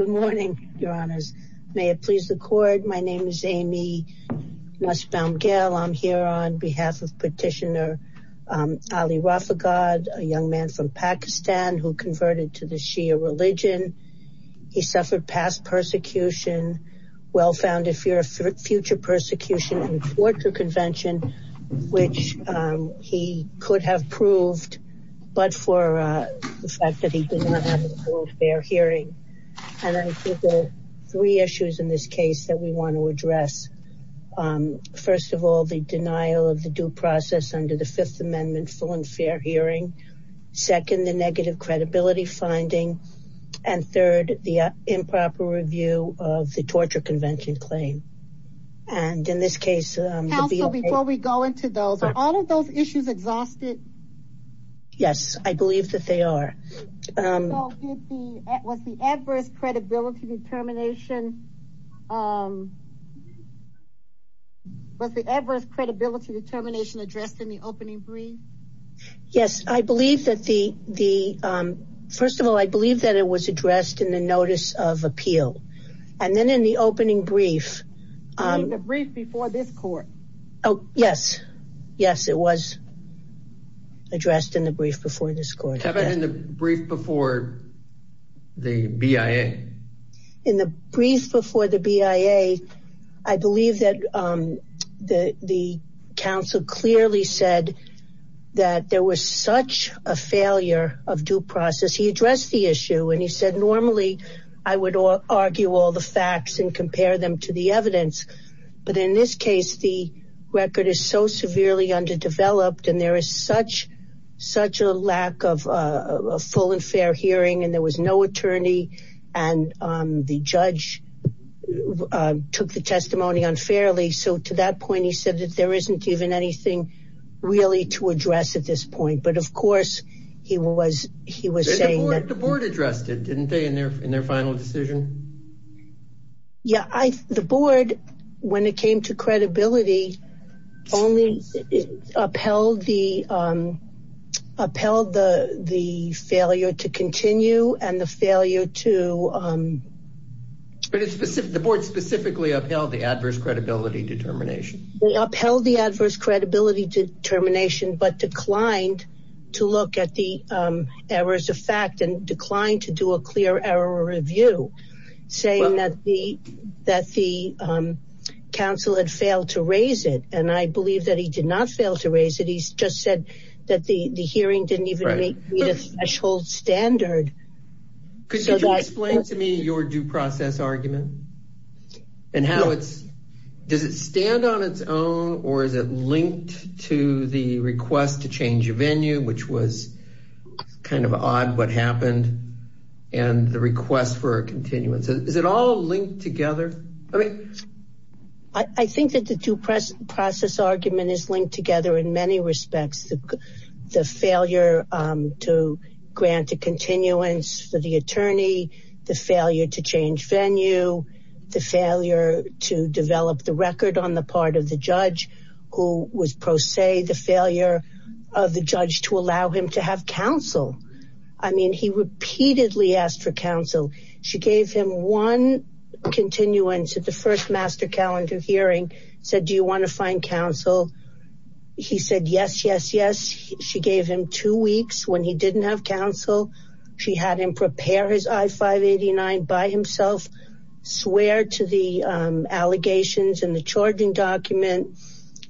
Good morning, your honors. May it please the court, my name is Amy Nussbaum-Gell. I'm here on behalf of Petitioner Ali Rafagad, a young man from Pakistan who converted to the Shia religion. He suffered past persecution, well-founded future persecution and torture convention, which he could have proved, but for the fact that he did not have a world fair hearing. And I think there are three issues in this case that we want to address. First of all, the denial of the due process under the Fifth Amendment full and fair hearing. Second, the negative credibility finding. And third, the improper review of the torture convention claim. And in this case, before we go into those, are all of those issues exhausted? Yes, I believe that they are. Was the adverse credibility determination addressed in the opening brief? Yes. First of all, I believe that it was addressed in the notice of appeal. And then in the opening brief. In the brief before this court? Oh, yes. Yes, it was. Addressed in the brief before this court. How about in the brief before the BIA? In the brief before the BIA, I believe that the counsel clearly said that there was such a failure of due process. He addressed the issue and he said, normally, I would argue all the facts and compare them to the evidence. But in this case, the record is so severely underdeveloped and there is such such a lack of full and fair hearing and there was no attorney and the judge took the testimony unfairly. So to that point, he said that there isn't even anything really to address at this point. But of course, he was he was saying that the board addressed it, didn't they, in their in their final decision? Yeah, the board, when it came to credibility, only upheld the upheld the the failure to continue and the failure to. The board specifically upheld the adverse credibility determination. They upheld the adverse credibility determination but declined to look at the errors of fact and I believe that he did not fail to raise it. He's just said that the hearing didn't even make it a threshold standard. Could you explain to me your due process argument and how it's does it stand on its own or is it linked to the request to change your venue, which was kind of odd what happened and the request for a continuance? Is it all linked together? Okay, I think that the due process argument is linked together in many respects. The failure to grant a continuance for the attorney, the failure to change venue, the failure to develop the record on the part of the judge who was pro se, the failure of the judge to allow him to have counsel. I mean, he repeatedly asked for counsel. She gave him one continuance at the first master calendar hearing, said, do you want to find counsel? He said, yes, yes, yes. She gave him two weeks when he didn't have counsel. She had him prepare his I-589 by himself, swear to the allegations in the charging document,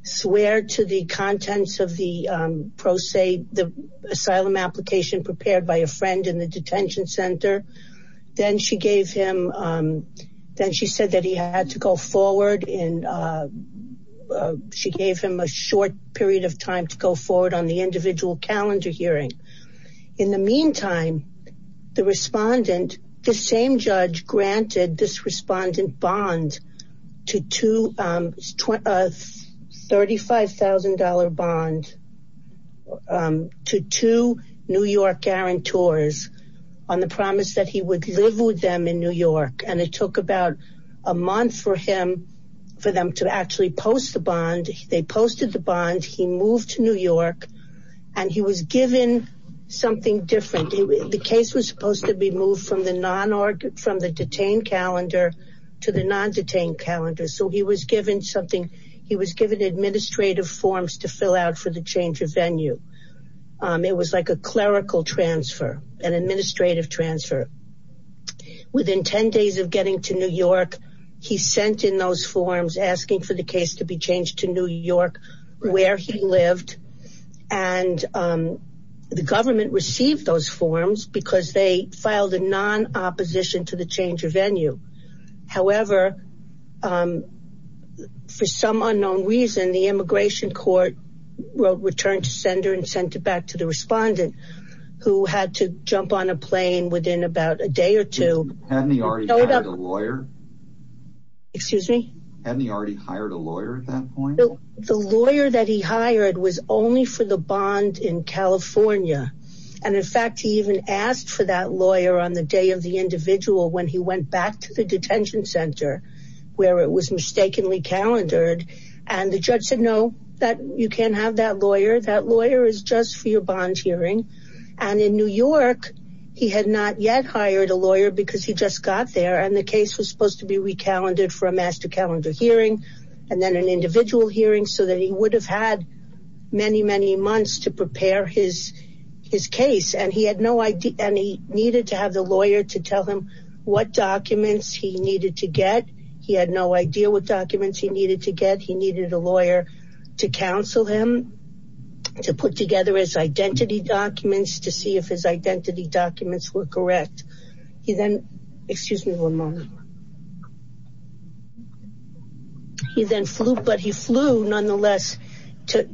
swear to the contents of the pro se, the asylum application prepared by a friend in the detention center. Then she gave him, then she said that he had to go forward and she gave him a short period of time to go forward on the individual calendar hearing. In the meantime, the respondent, the same judge granted this respondent bond to two, a $35,000 bond to two New York guarantors on the promise that he would live with them in New York. And it took about a month for him, for them to actually post the bond. They posted the bond. He moved to New York and he was given something different. The case was supposed to be moved from the detained calendar to the non-detained calendar. So he was given something, he was given administrative forms to fill out for the change of venue. It was like a clerical transfer, an administrative transfer. Within 10 days of getting to New York, he sent in those forms asking for the case to be changed to New York where he lived. And the government received those opposition to the change of venue. However, for some unknown reason, the immigration court returned to sender and sent it back to the respondent who had to jump on a plane within about a day or two. Hadn't he already hired a lawyer? Excuse me? Hadn't he already hired a lawyer at that point? The lawyer that he hired was only for the bond in California. And in fact, he even asked for that lawyer on the day of the individual when he went back to the detention center where it was mistakenly calendared. And the judge said, no, you can't have that lawyer. That lawyer is just for your bond hearing. And in New York, he had not yet hired a lawyer because he just got there. And the case was supposed to be recalendared for a master calendar hearing and then an individual hearing so that he would have had many, many months to prepare his case. And he needed to have the lawyer to tell him what documents he needed to get. He had no idea what documents he needed to get. He needed a lawyer to counsel him, to put together his identity documents, to see if his identity documents were correct. He then, excuse me one moment. He then flew, but he flew nonetheless to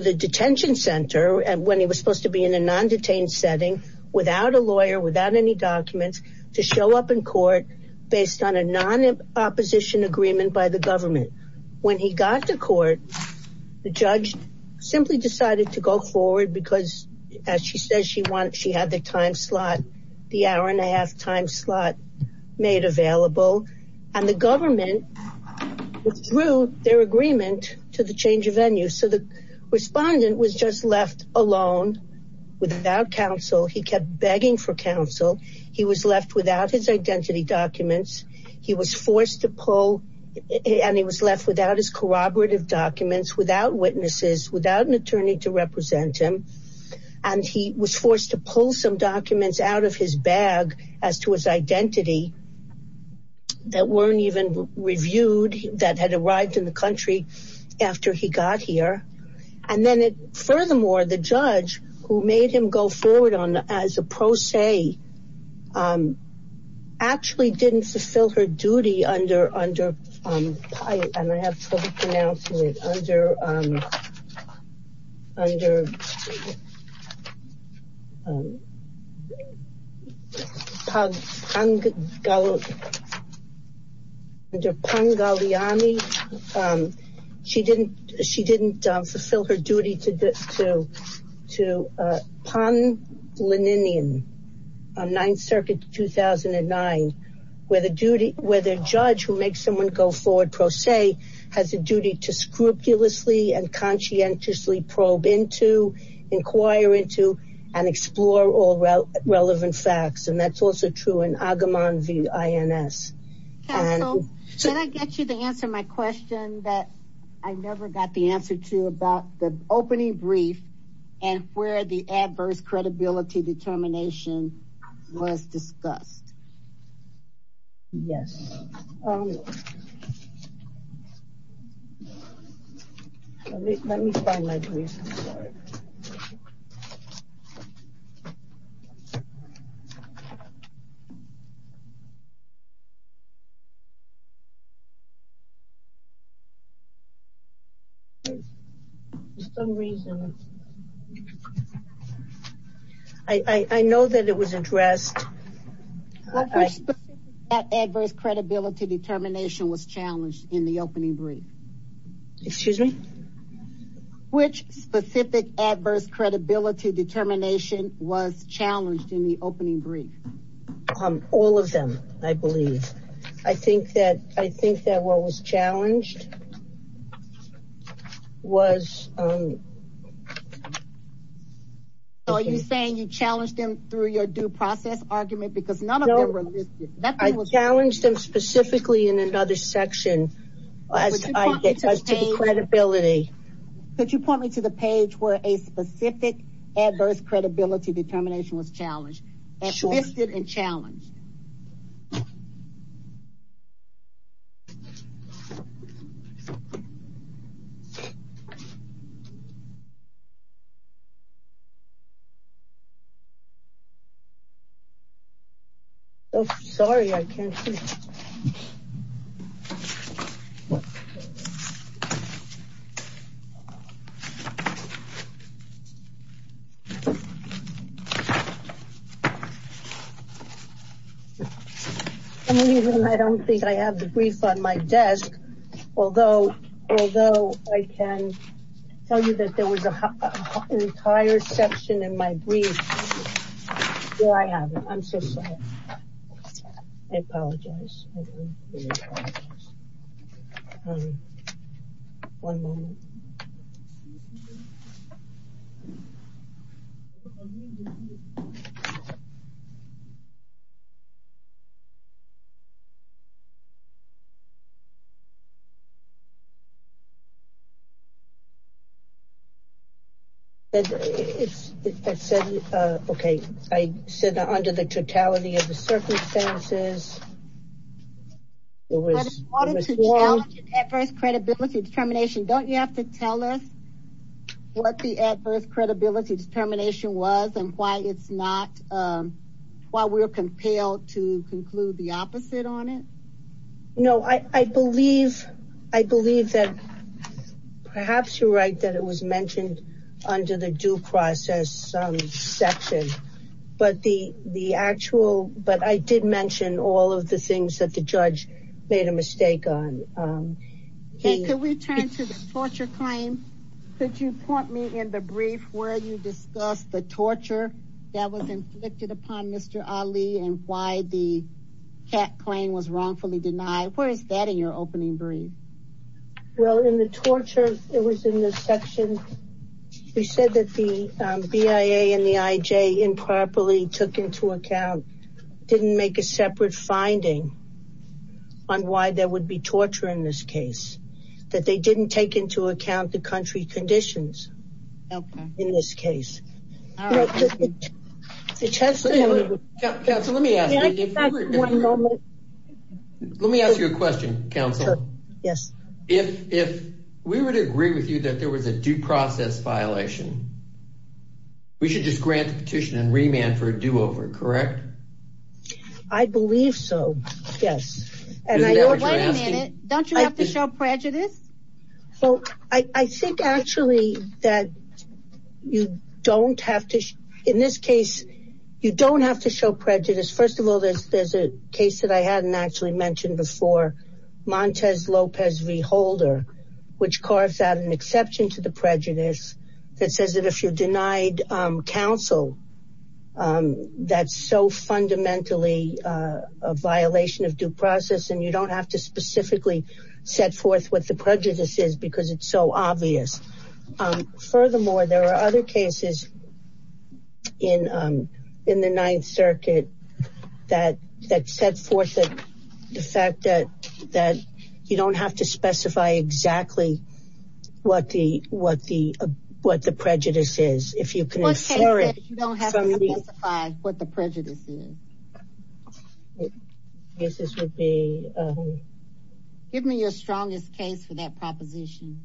the detention center when he was supposed to be in undetained setting without a lawyer, without any documents to show up in court based on a non-opposition agreement by the government. When he got to court, the judge simply decided to go forward because as she says, she had the time slot, the hour and a half time slot made available. And the government withdrew their agreement to the change of venue. So the respondent was just left alone without counsel. He kept begging for counsel. He was left without his identity documents. He was forced to pull and he was left without his corroborative documents, without witnesses, without an attorney to represent him. And he was forced to pull some documents out of his bag as to his identity that weren't even reviewed, that had arrived in the country after he got here. And then it, furthermore, the judge who made him go forward as a pro se, actually didn't fulfill her duty under, and I have trouble pronouncing it, under Pongaliani. She didn't, she didn't fulfill her duty to Pongaliani on Ninth Circuit 2009, where the duty, where the judge who makes someone go forward pro se has a duty to scrupulously and inquire into and explore all relevant facts. And that's also true in Agamon v. INS. Can I get you to answer my question that I never got the answer to about the opening brief and where the adverse credibility determination was discussed? Yes. Let me find my brief, I'm sorry. For some reason, I know that it was addressed. That adverse credibility determination was challenged in the opening brief. Excuse me? Which specific adverse credibility determination was challenged in the opening brief? All of them, I believe. I think that, I think that what was challenged was... So are you saying you challenged them through your due process argument because none of them were listed? I challenged them specifically in another section as I get to the credibility. Could you point me to the page where a specific adverse credibility determination was challenged, as listed and challenged? Okay. Oh, sorry, I can't see. For some reason, I don't think I have the brief on my desk, although I can tell you that there was an entire section in my brief where I have it. I'm so sorry. I apologize. One moment. Okay. I said that under the totality of the circumstances, it was... But in order to challenge an adverse credibility determination, don't you have to tell us what the adverse credibility determination was and why it's not, why we're compelled to conclude the opposite on it? No, I believe, I believe that perhaps you're right that it was mentioned under the due process section, but the actual, but I did mention all of the things that the judge made a mistake on. Hey, could we turn to the torture claim? Could you point me in the brief where you discussed the torture that was inflicted upon Mr. Ali and why the CAC claim was wrongfully denied? Where is that in your opening brief? Well, in the torture, it was in this section, we said that the BIA and the IJ improperly took into account, didn't make a separate finding on why there would be torture in this case, that they didn't take into account the country conditions in this case. Let me ask you a question, counsel. Yes. If we were to agree with you that there was a due process violation, we should just grant the petition and remand for a do-over, correct? I believe so. Yes. Wait a minute, don't you have to show prejudice? Well, I think actually that you don't have to, in this case, you don't have to show prejudice. First of all, there's a case that I hadn't actually mentioned before, Montez Lopez v. Holder, which carves out an exception to the prejudice that says that if you're denied counsel, that's so fundamentally a violation of due process and you don't have to specifically set forth what the prejudice is because it's so obvious. Furthermore, there are other cases in the Ninth Circuit that set forth the fact that you don't have to specify exactly what the prejudice is. Give me your strongest case for that proposition.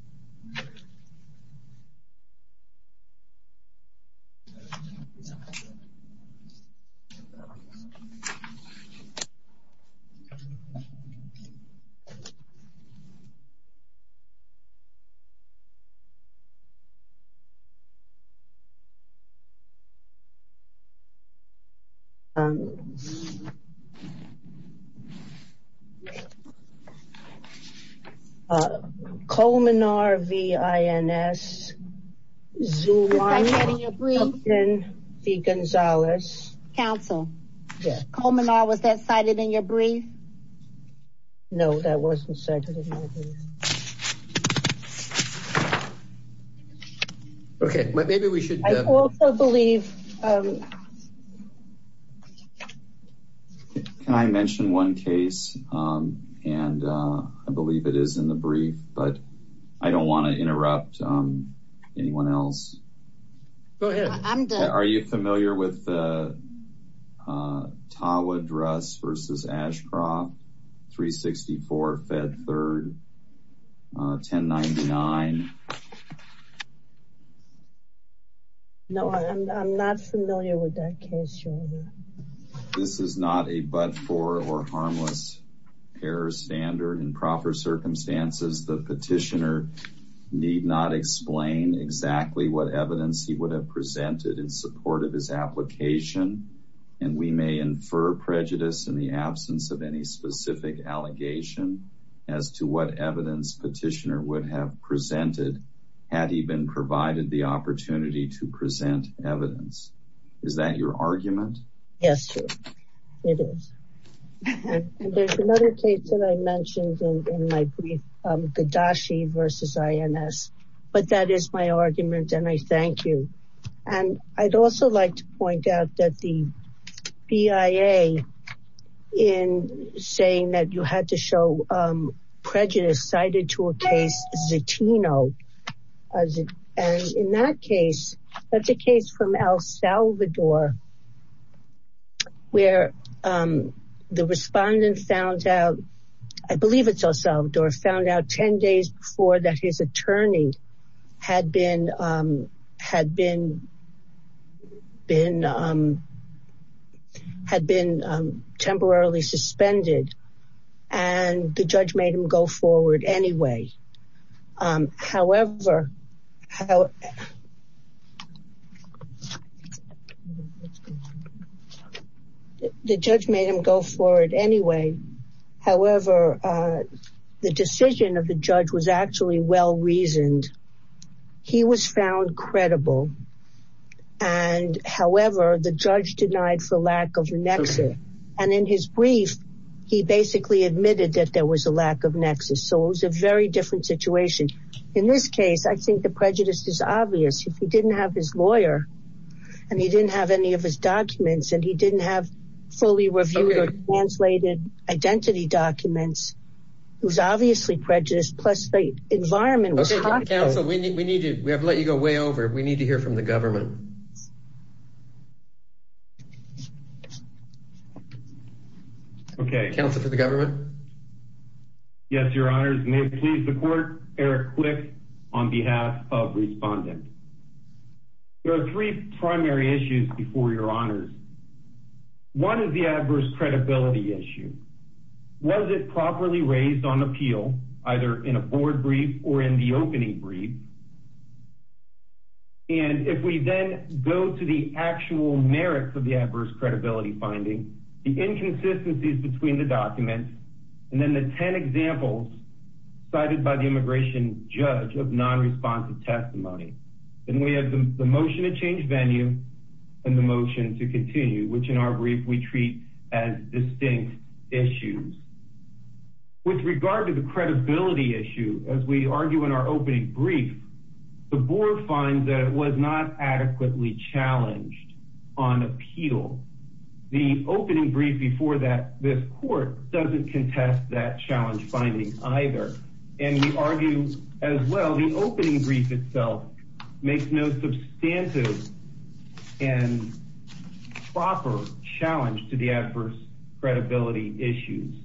Okay. Colmenar v. Ins. Zulon v. Gonzalez. Counsel? Yes. Colmenar, was that cited in your brief? No, that wasn't cited in my brief. Okay, maybe we should... I also believe... Can I mention one case? And I believe it is in the brief, but I don't want to interrupt anyone else. Go ahead. I'm done. I'm not familiar with the Tawa Dress v. Ashcroft, 364 Fed 3rd, 1099. No, I'm not familiar with that case, Your Honor. This is not a but-for or harmless error standard. In proper circumstances, the petitioner need not explain exactly what evidence he would have presented in support of his application, and we may infer prejudice in the absence of any specific allegation as to what evidence petitioner would have presented had he been provided the opportunity to present evidence. Is that your argument? Yes, it is. There's another case that I mentioned in my brief, Gadashi v. INS, but that is my argument, and I thank you. And I'd also like to point out that the BIA, in saying that you had to show prejudice, cited to a case, Zetino, and in that case, that's a case from El Salvador, where the respondent found out, I believe it's El Salvador, found out 10 days before that his attorney had been temporarily suspended, and the judge made him go forward anyway. However, the decision of the judge was actually well-reasoned. He was found credible, and however, the judge denied for lack of nexus. And in his brief, he basically admitted that there was a lack of nexus. So it was a very different situation. In this case, I think the prejudice is obvious. If he didn't have his lawyer, and he didn't have any of his documents, and he didn't have fully reviewed or translated identity documents, it was obviously prejudice, plus the environment. Okay, counsel, we have to let you go way over. We need to hear from the government. Okay. Counsel for the government? Yes, your honors. May it please the court, Eric Quick on behalf of respondent. There are three primary issues before your honors. One is the adverse credibility issue. Was it properly raised on appeal, either in a board brief or in the opening brief? And if we then go to the actual merits of the adverse credibility finding, the inconsistencies between the documents, and then the 10 examples cited by the immigration judge of non-responsive testimony, then we have the motion to change venue and the motion to continue, which in our brief, we treat as distinct issues. With regard to the credibility issue, as we argue in our opening brief, the board finds that it was not adequately challenged on appeal. The opening brief before that, this court doesn't contest that challenge finding either. And we argue as well, the opening brief itself makes no substantive and proper challenge to the adverse credibility issues.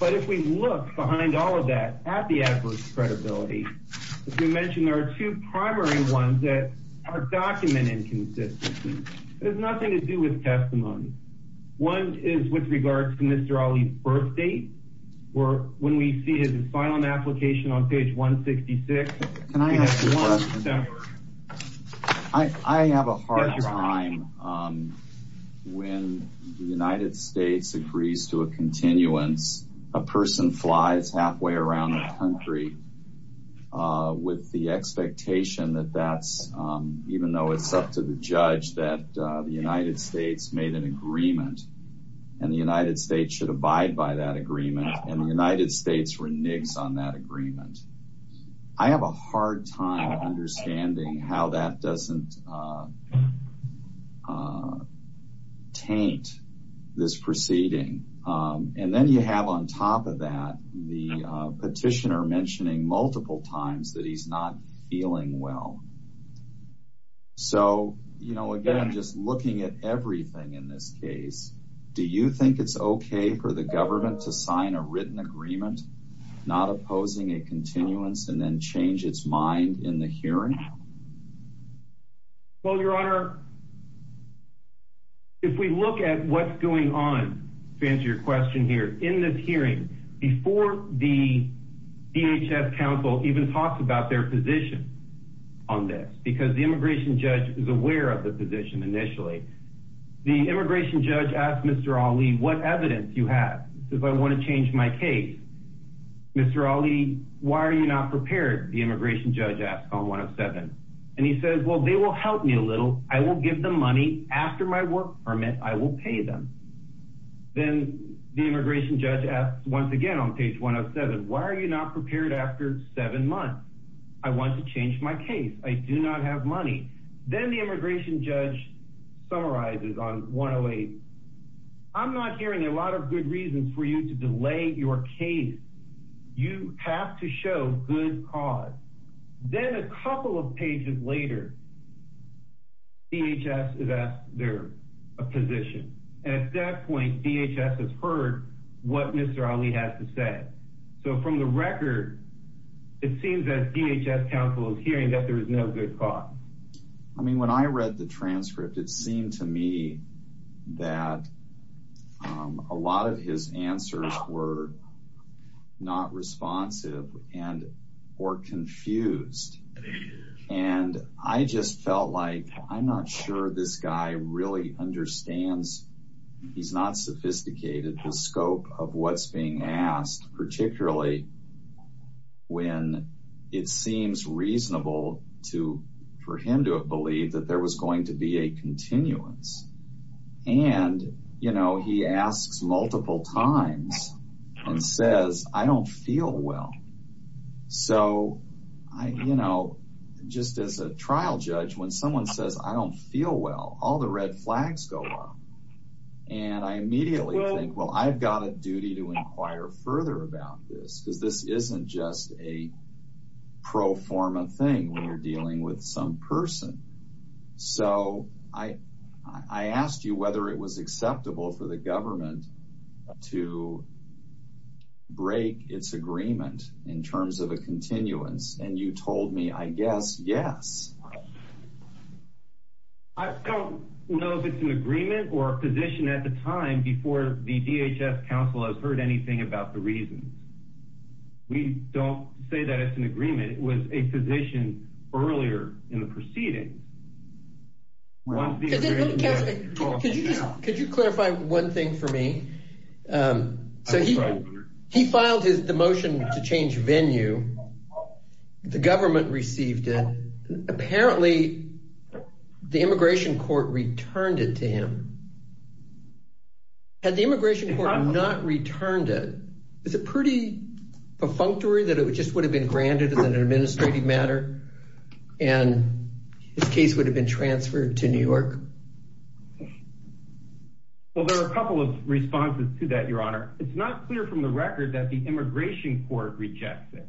But if we look behind all of that at the adverse credibility, as you mentioned, there are two primary ones that are document inconsistencies. There's nothing to do with testimony. One is with regards to Mr. Ali's birth date, or when we see his asylum application on page 166. I have a hard time when the United States agrees to a continuance, a person flies halfway around the country with the expectation that that's, even though it's up to the judge, that the United States made an agreement, and the United States should abide by that agreement, and the United States reneges on that agreement. I have a hard time understanding how that doesn't taint this proceeding. And then you have, on top of that, the petitioner mentioning multiple times that he's not feeling well. So, you know, again, just looking at everything in this case, do you think it's okay for the government to sign a written agreement, not opposing a continuance, and then change its mind in the hearing? Well, Your Honor, if we look at what's going on, to answer your question here, in this hearing, before the DHS counsel even talked about their position on this, because the immigration judge is aware of the position initially, the immigration judge asked Mr. Ali, what evidence you have, because I want to change my case. Mr. Ali, why are you not prepared, the immigration judge asked on 1-07-20. And he says, well, they will help me a little. I will give them money. After my work permit, I will pay them. Then the immigration judge asks, once again, on page 1-07-20, why are you not prepared after seven months? I want to change my case. I do not have money. Then the immigration judge summarizes on 1-08-20, I'm not hearing a lot of good reasons for you to delay your case. You have to show good cause. Then a couple of pages later, DHS is asked their position. At that point, DHS has heard what Mr. Ali has to say. So from the record, it seems that DHS counsel is hearing that there is no good cause. I mean, when I read the transcript, it seemed to me that a lot of his answers were not responsive and were confused. And I just felt like, I'm not sure this guy really understands, he's not sophisticated, the scope of what's being asked, particularly when it seems reasonable for him to have believed that there was going to be a continuance. And, you know, he asks multiple times and says, I don't feel well. So, you know, just as a trial judge, when someone says, I don't feel well, all the red flags go up. And I immediately think, well, I've got a duty to inquire further about this because this isn't just a pro forma thing when you're dealing with some person. So I asked you whether it was acceptable for the government to break its agreement in terms of a continuance, and you told me, I guess, yes. I don't know if it's an agreement or a position at the time before the DHS counsel has heard anything about the reasons. We don't say that it's an agreement. It was a position earlier in the proceeding. Could you clarify one thing for me? So he filed the motion to change venue. The government received it. Apparently, the immigration court returned it to him. Had the immigration court not returned it, is it pretty perfunctory that it just would have been granted as an administrative matter and his case would have been transferred to New York? Well, there are a couple of responses to that, Your Honor. It's not clear from the record that the immigration court rejects it.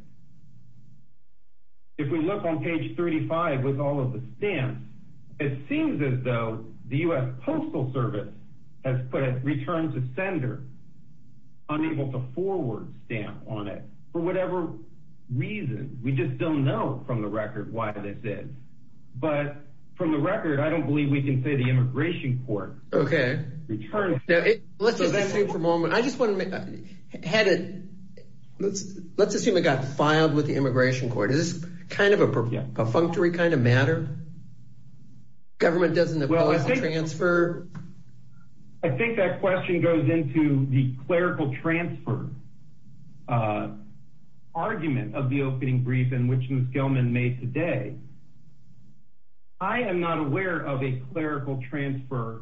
If we look on page 35 with all of the stamps, it seems as though the U.S. Postal Service has put a return to sender, unable to forward stamp on it for whatever reason. We just don't know from the record why this is. But from the record, I don't believe we can say the immigration court returned it. Let's assume it got filed with the immigration court. Is this kind of a perfunctory kind of matter? Government doesn't allow us to transfer? I think that question goes into the clerical transfer. Uh, argument of the opening brief in which Ms. Gelman made today. I am not aware of a clerical transfer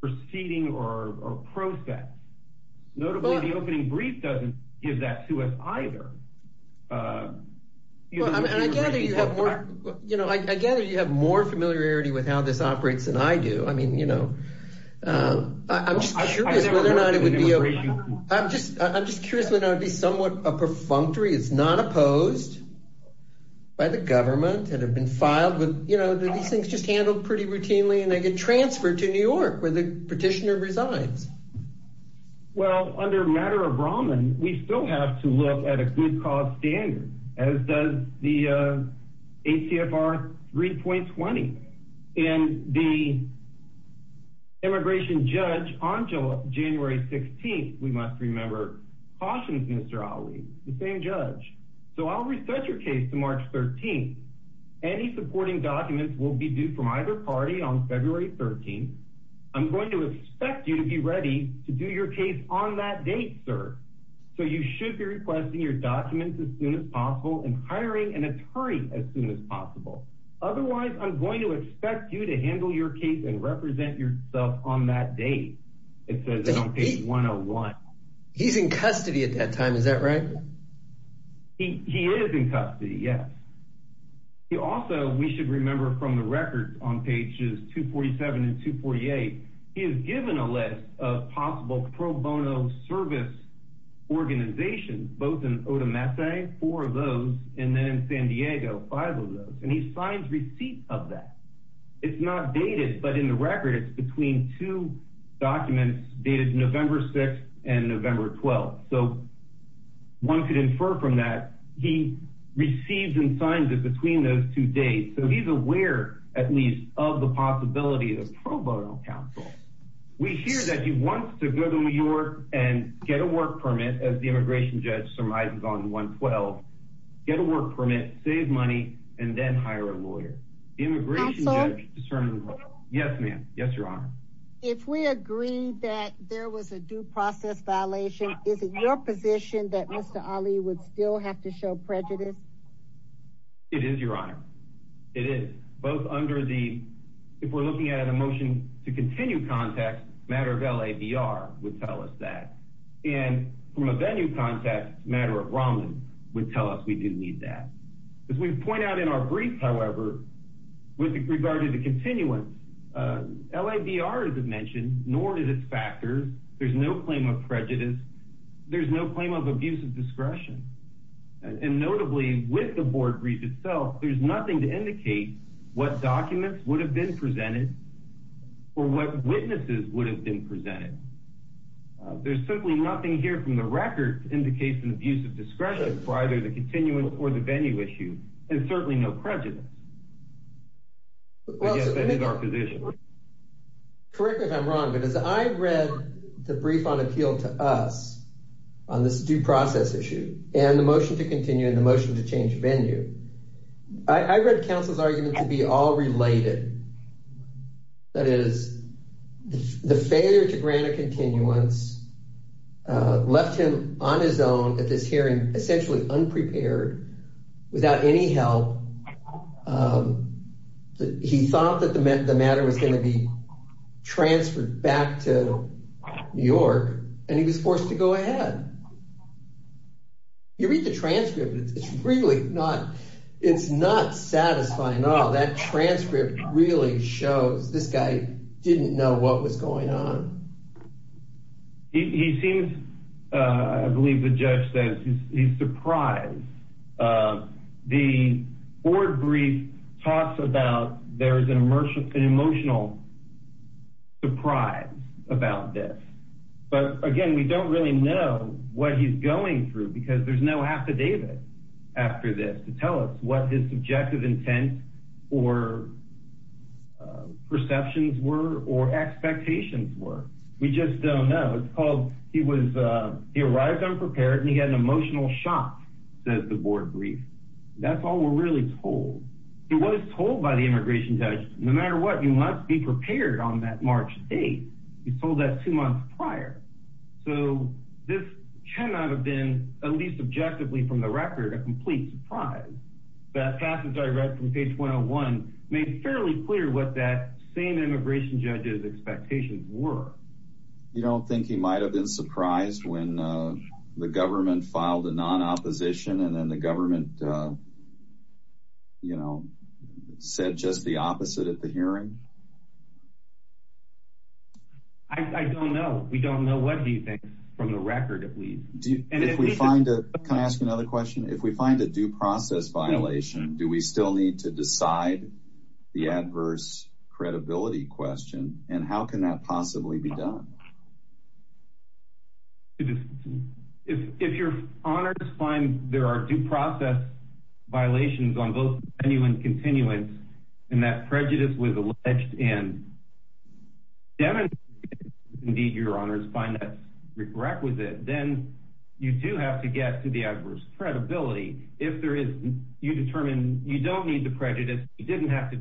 proceeding or process. Notably, the opening brief doesn't give that to us either. You know, I gather you have more familiarity with how this operates than I do. I mean, you know, I'm just curious whether or not it would be. I'm just, I'm just curious whether it would be somewhat a perfunctory. It's not opposed by the government and have been filed with, you know, these things just handled pretty routinely and they get transferred to New York where the petitioner resides. Well, under matter of Roman, we still have to look at a good cause standard as does the we must remember Mr. Ali, the same judge. So I'll reset your case to March 13th. Any supporting documents will be due from either party on February 13th. I'm going to expect you to be ready to do your case on that date, sir. So you should be requesting your documents as soon as possible and hiring an attorney as soon as possible. Otherwise, I'm going to expect you to handle your case and represent yourself on that date. It says on page 101. He's in custody at that time. Is that right? He is in custody. Yes. He also, we should remember from the records on pages 247 and 248, he is given a list of possible pro bono service organizations, both in Odomese, four of those, and then San Diego, five of those. And he signs receipts of that. It's not dated, but in the record, it's between two documents dated November 6th and November 12th. So one could infer from that he received and signed it between those two dates. So he's aware, at least of the possibility of pro bono counsel. We hear that he wants to go to New York and get a work permit as the immigration judge surmises on 112, get a work permit, save money, and then hire a lawyer. Immigration judge, yes, ma'am. Yes, your honor. If we agree that there was a due process violation, is it your position that Mr. Ali would still have to show prejudice? It is your honor. It is both under the, if we're looking at an emotion to continue contact matter of LAVR would tell us that. And from a venue contact matter of Romney would tell us we do need that. As we point out in our brief, however, with regard to the continuance, LAVR, as I've mentioned, nor did it factor. There's no claim of prejudice. There's no claim of abuse of discretion. And notably with the board brief itself, there's nothing to indicate what documents would have been presented or what witnesses would have been presented. There's certainly nothing here from the record indicates an abuse of discretion for either the continuance or the venue issue. There's certainly no prejudice. I guess that is our position. Correct me if I'm wrong, but as I read the brief on appeal to us on this due process issue and the motion to continue and the motion to change venue, I read counsel's argument to be all related. That is the failure to grant a continuance left him on his own at this hearing, essentially unprepared, without any help. He thought that the matter was going to be transferred back to New York and he was forced to go ahead. You read the transcript, it's really not, it's not satisfying at all. That transcript really shows this guy didn't know what was going on. He seems, I believe the judge says he's surprised. The board brief talks about there's an emotional surprise about this, but again, we don't really know what he's going through because there's no affidavit after this to tell us what his subjective intent or perceptions were or expectations were. We just don't know. It's called, he was, he arrived unprepared and he had an emotional shock, says the board brief. That's all we're really told. So what is told by the immigration judge, no matter what, you must be prepared on that March 8th. He told that two months prior. So this cannot have been, at least objectively from the record, a complete surprise. That passage I read from page 201 made fairly clear what that same immigration judge's expectations were. You don't think he might've been surprised when the government filed a non-opposition and then the government, you know, said just the opposite at the hearing? I don't know. We don't know. What do you think from the record? If we find a, can I ask another question? If we find a due process violation, do we still need to decide the adverse credibility question? And how can that possibly be done? If your honors find there are due process violations on both genuine continuance and that prejudice was alleged and demonstrated, if indeed your honors find that requisite, then you do have to get to the adverse credibility. If there is, you determine you don't need the prejudice. You didn't have to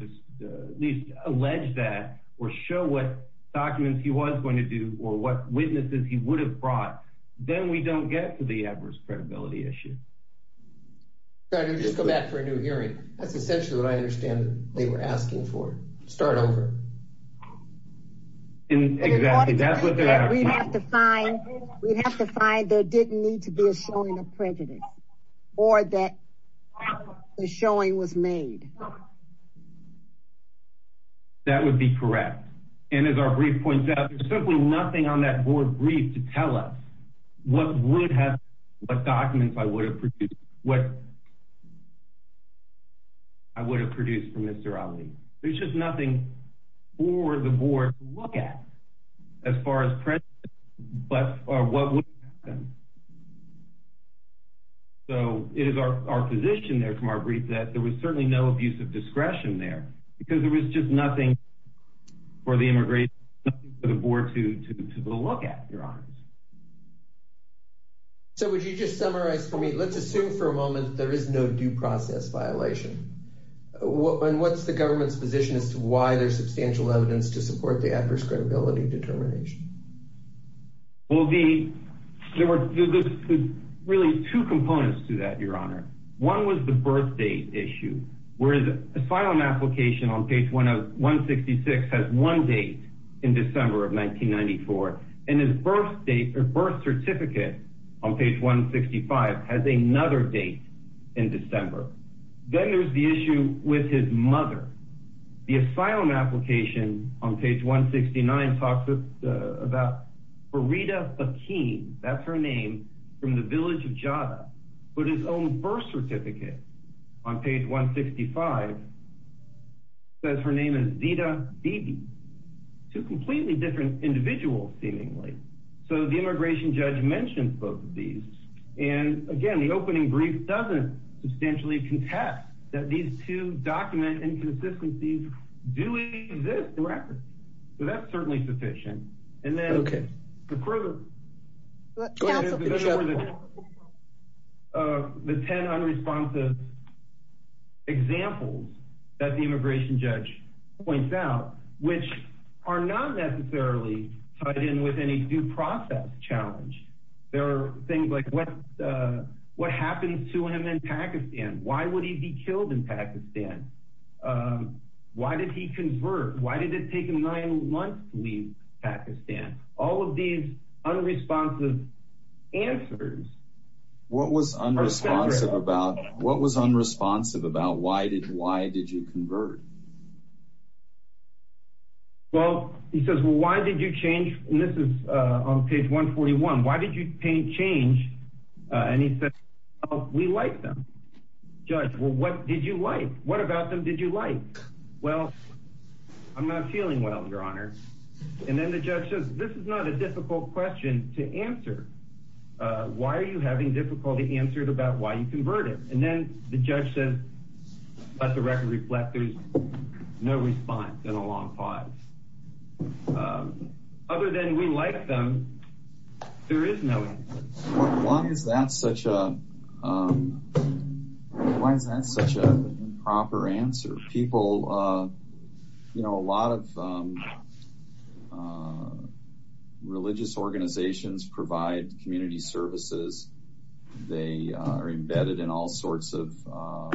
at least allege that or show what documents he was going to do or what witnesses he would have brought. Then we don't get to the adverse credibility issue. Sorry, let me just go back for a new hearing. That's essentially what I understand they were asking for. Start over. Exactly. That's what they're asking. We'd have to find, we'd have to find there didn't need to be a showing of prejudice or that the showing was made. That would be correct. And as our brief points out, there's simply nothing on that board brief to tell us what would have, what documents I would have produced, what I would have produced for Mr. Ali. There's just nothing for the board to look at as far as prejudice, but what would happen. So it is our position there from our brief that there was certainly no abuse of discretion there because there was just nothing for the immigration for the board to, to, to, to look at your honors. So would you just summarize for me, let's assume for a moment, there is no due process violation. And what's the government's position as to why there's substantial evidence to support the adverse credibility determination? Well, the, there were really two components to that. Your honor. One was the birth date issue where the asylum application on page one of one 66 has one date in December of 1994 and his birth date or birth certificate on page one 65 has another date in December. Then there's the issue with his mother. The asylum application on page one 69 talks about, uh, about Rita, a keen, that's her name from the village of Java, but his own birth certificate on page one 65 says her name is Zita. Two completely different individuals seemingly. So the immigration judge mentioned both of these. And again, the opening brief doesn't substantially contest that these two document and assistance, these do exist records. So that's certainly sufficient. And then the further, uh, the 10 unresponsive examples that the immigration judge points out, which are not necessarily tied in with any due process challenge. There are things like what, uh, what happens to him in Pakistan? Why would he be killed in Pakistan? Um, why did he convert? Why did it take him nine months to leave Pakistan? All of these unresponsive answers, what was unresponsive about what was unresponsive about why did, why did you convert? Well, he says, well, why did you change? And this is, uh, on page one 41, why did you paint change? And he said, we liked them judge. Well, what did you like? What about them? Did you like, well, I'm not feeling well, your honor. And then the judge says, this is not a difficult question to answer. Uh, why are you having difficulty answered about why you converted? And then the judge says, that's a record reflect. There's no response in a long pause. Um, other than we liked them, there is no, why is that such a, um, why is that such a proper answer? People, uh, you know, a lot of, um, uh, religious organizations provide community services. They are embedded in all sorts of, uh,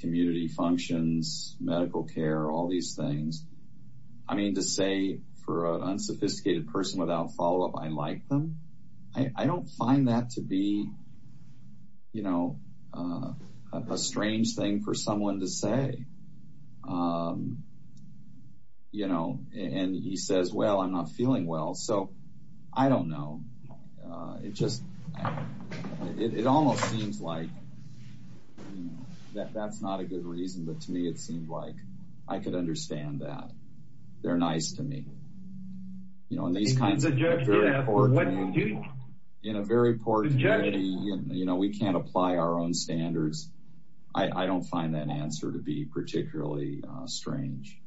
community functions, medical care, all these things. I mean, to say for an unsophisticated person without follow-up, I like them. I don't find that to be, you know, uh, a strange thing for someone to say. Um, you know, and he says, well, I'm not feeling well. So I don't know. It just, it almost seems like that that's not a good reason. But to me, it seemed like I could understand that they're nice to me. You know, in these kinds of, in a very poor community, you know, we can't apply our own standards. I don't find that answer to be particularly strange.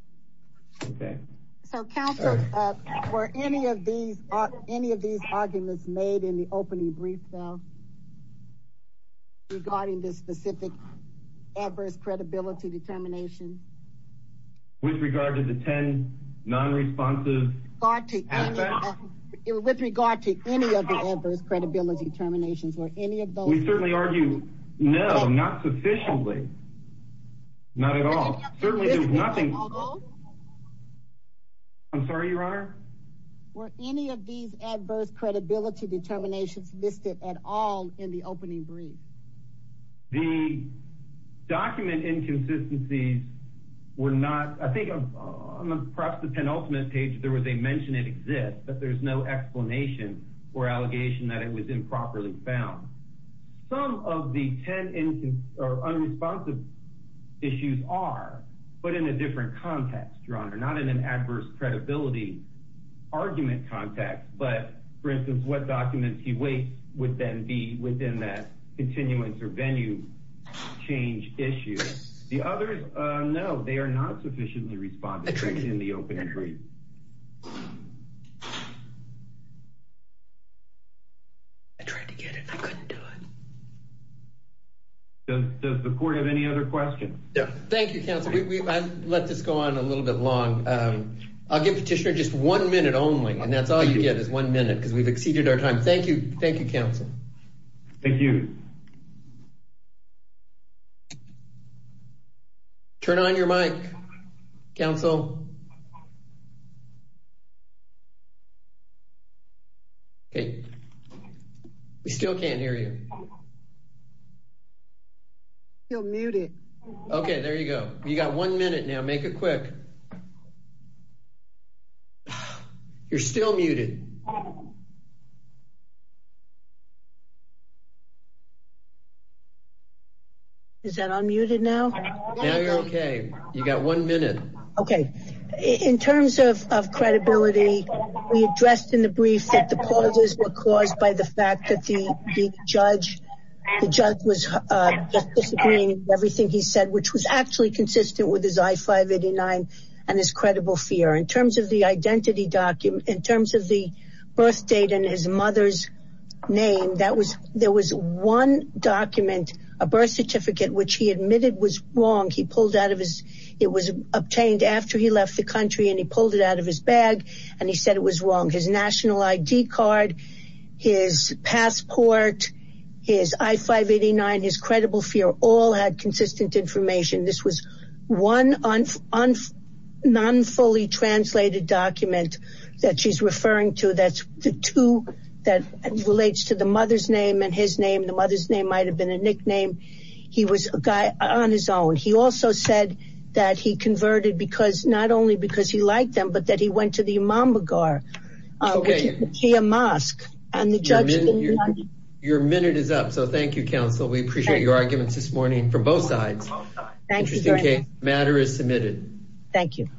Okay. So council, uh, were any of these, any of these arguments made in the opening brief though, regarding this specific adverse credibility determination? With regard to the 10 non-responsive? With regard to any of the adverse credibility determinations or any of those? We certainly argue, no, not sufficiently. Not at all. Certainly there's nothing. I'm sorry, your honor. Were any of these adverse credibility determinations listed at all in the opening brief? The document inconsistencies were not, I think perhaps the penultimate page, there was a mention it exists, but there's no explanation or allegation that it was improperly found. Some of the 10 or unresponsive issues are, but in a different context, your honor, not in an adverse credibility argument context, but for instance, what documents he waits with them be within that continuance or venue change issue. The others, uh, no, they are not sufficiently responsive in the open entry. I tried to get it. I couldn't do it. Does the court have any other questions? Yeah. Thank you, counsel. We let this go on a little bit long. Um, I'll give petitioner just one minute only. And that's all you get is one minute. Cause we've exceeded our time. Thank you. Thank you. Counsel. Thank you. Turn on your mic council. Okay. We still can't hear you. You're muted. Okay. There you go. You got one minute now. Make it quick. You're still muted. Is that I'm muted now. Now you're okay. You got one minute. Okay. In terms of, of credibility, we addressed in the brief that the causes were caused by the fact that the judge, the judge was, uh, just disagreeing with everything he said, which was actually consistent with his I-589 and his credible fear in terms of the identity document, in terms of the date and his mother's name. That was, there was one document, a birth certificate, which he admitted was wrong. He pulled out of his, it was obtained after he left the country and he pulled it out of his bag and he said it was wrong. His national ID card, his passport, his I-589, his credible fear, all had consistent information. This was one non-fully translated document that she's referring to. That's the two that relates to the mother's name and his name. The mother's name might've been a nickname. He was a guy on his own. He also said that he converted because not only because he liked them, but that he went to the Imam Begar, which is the mosque. Your minute is up. So thank you, counsel. We appreciate your arguments this morning from both sides. Interesting case. The matter is submitted. Thank you.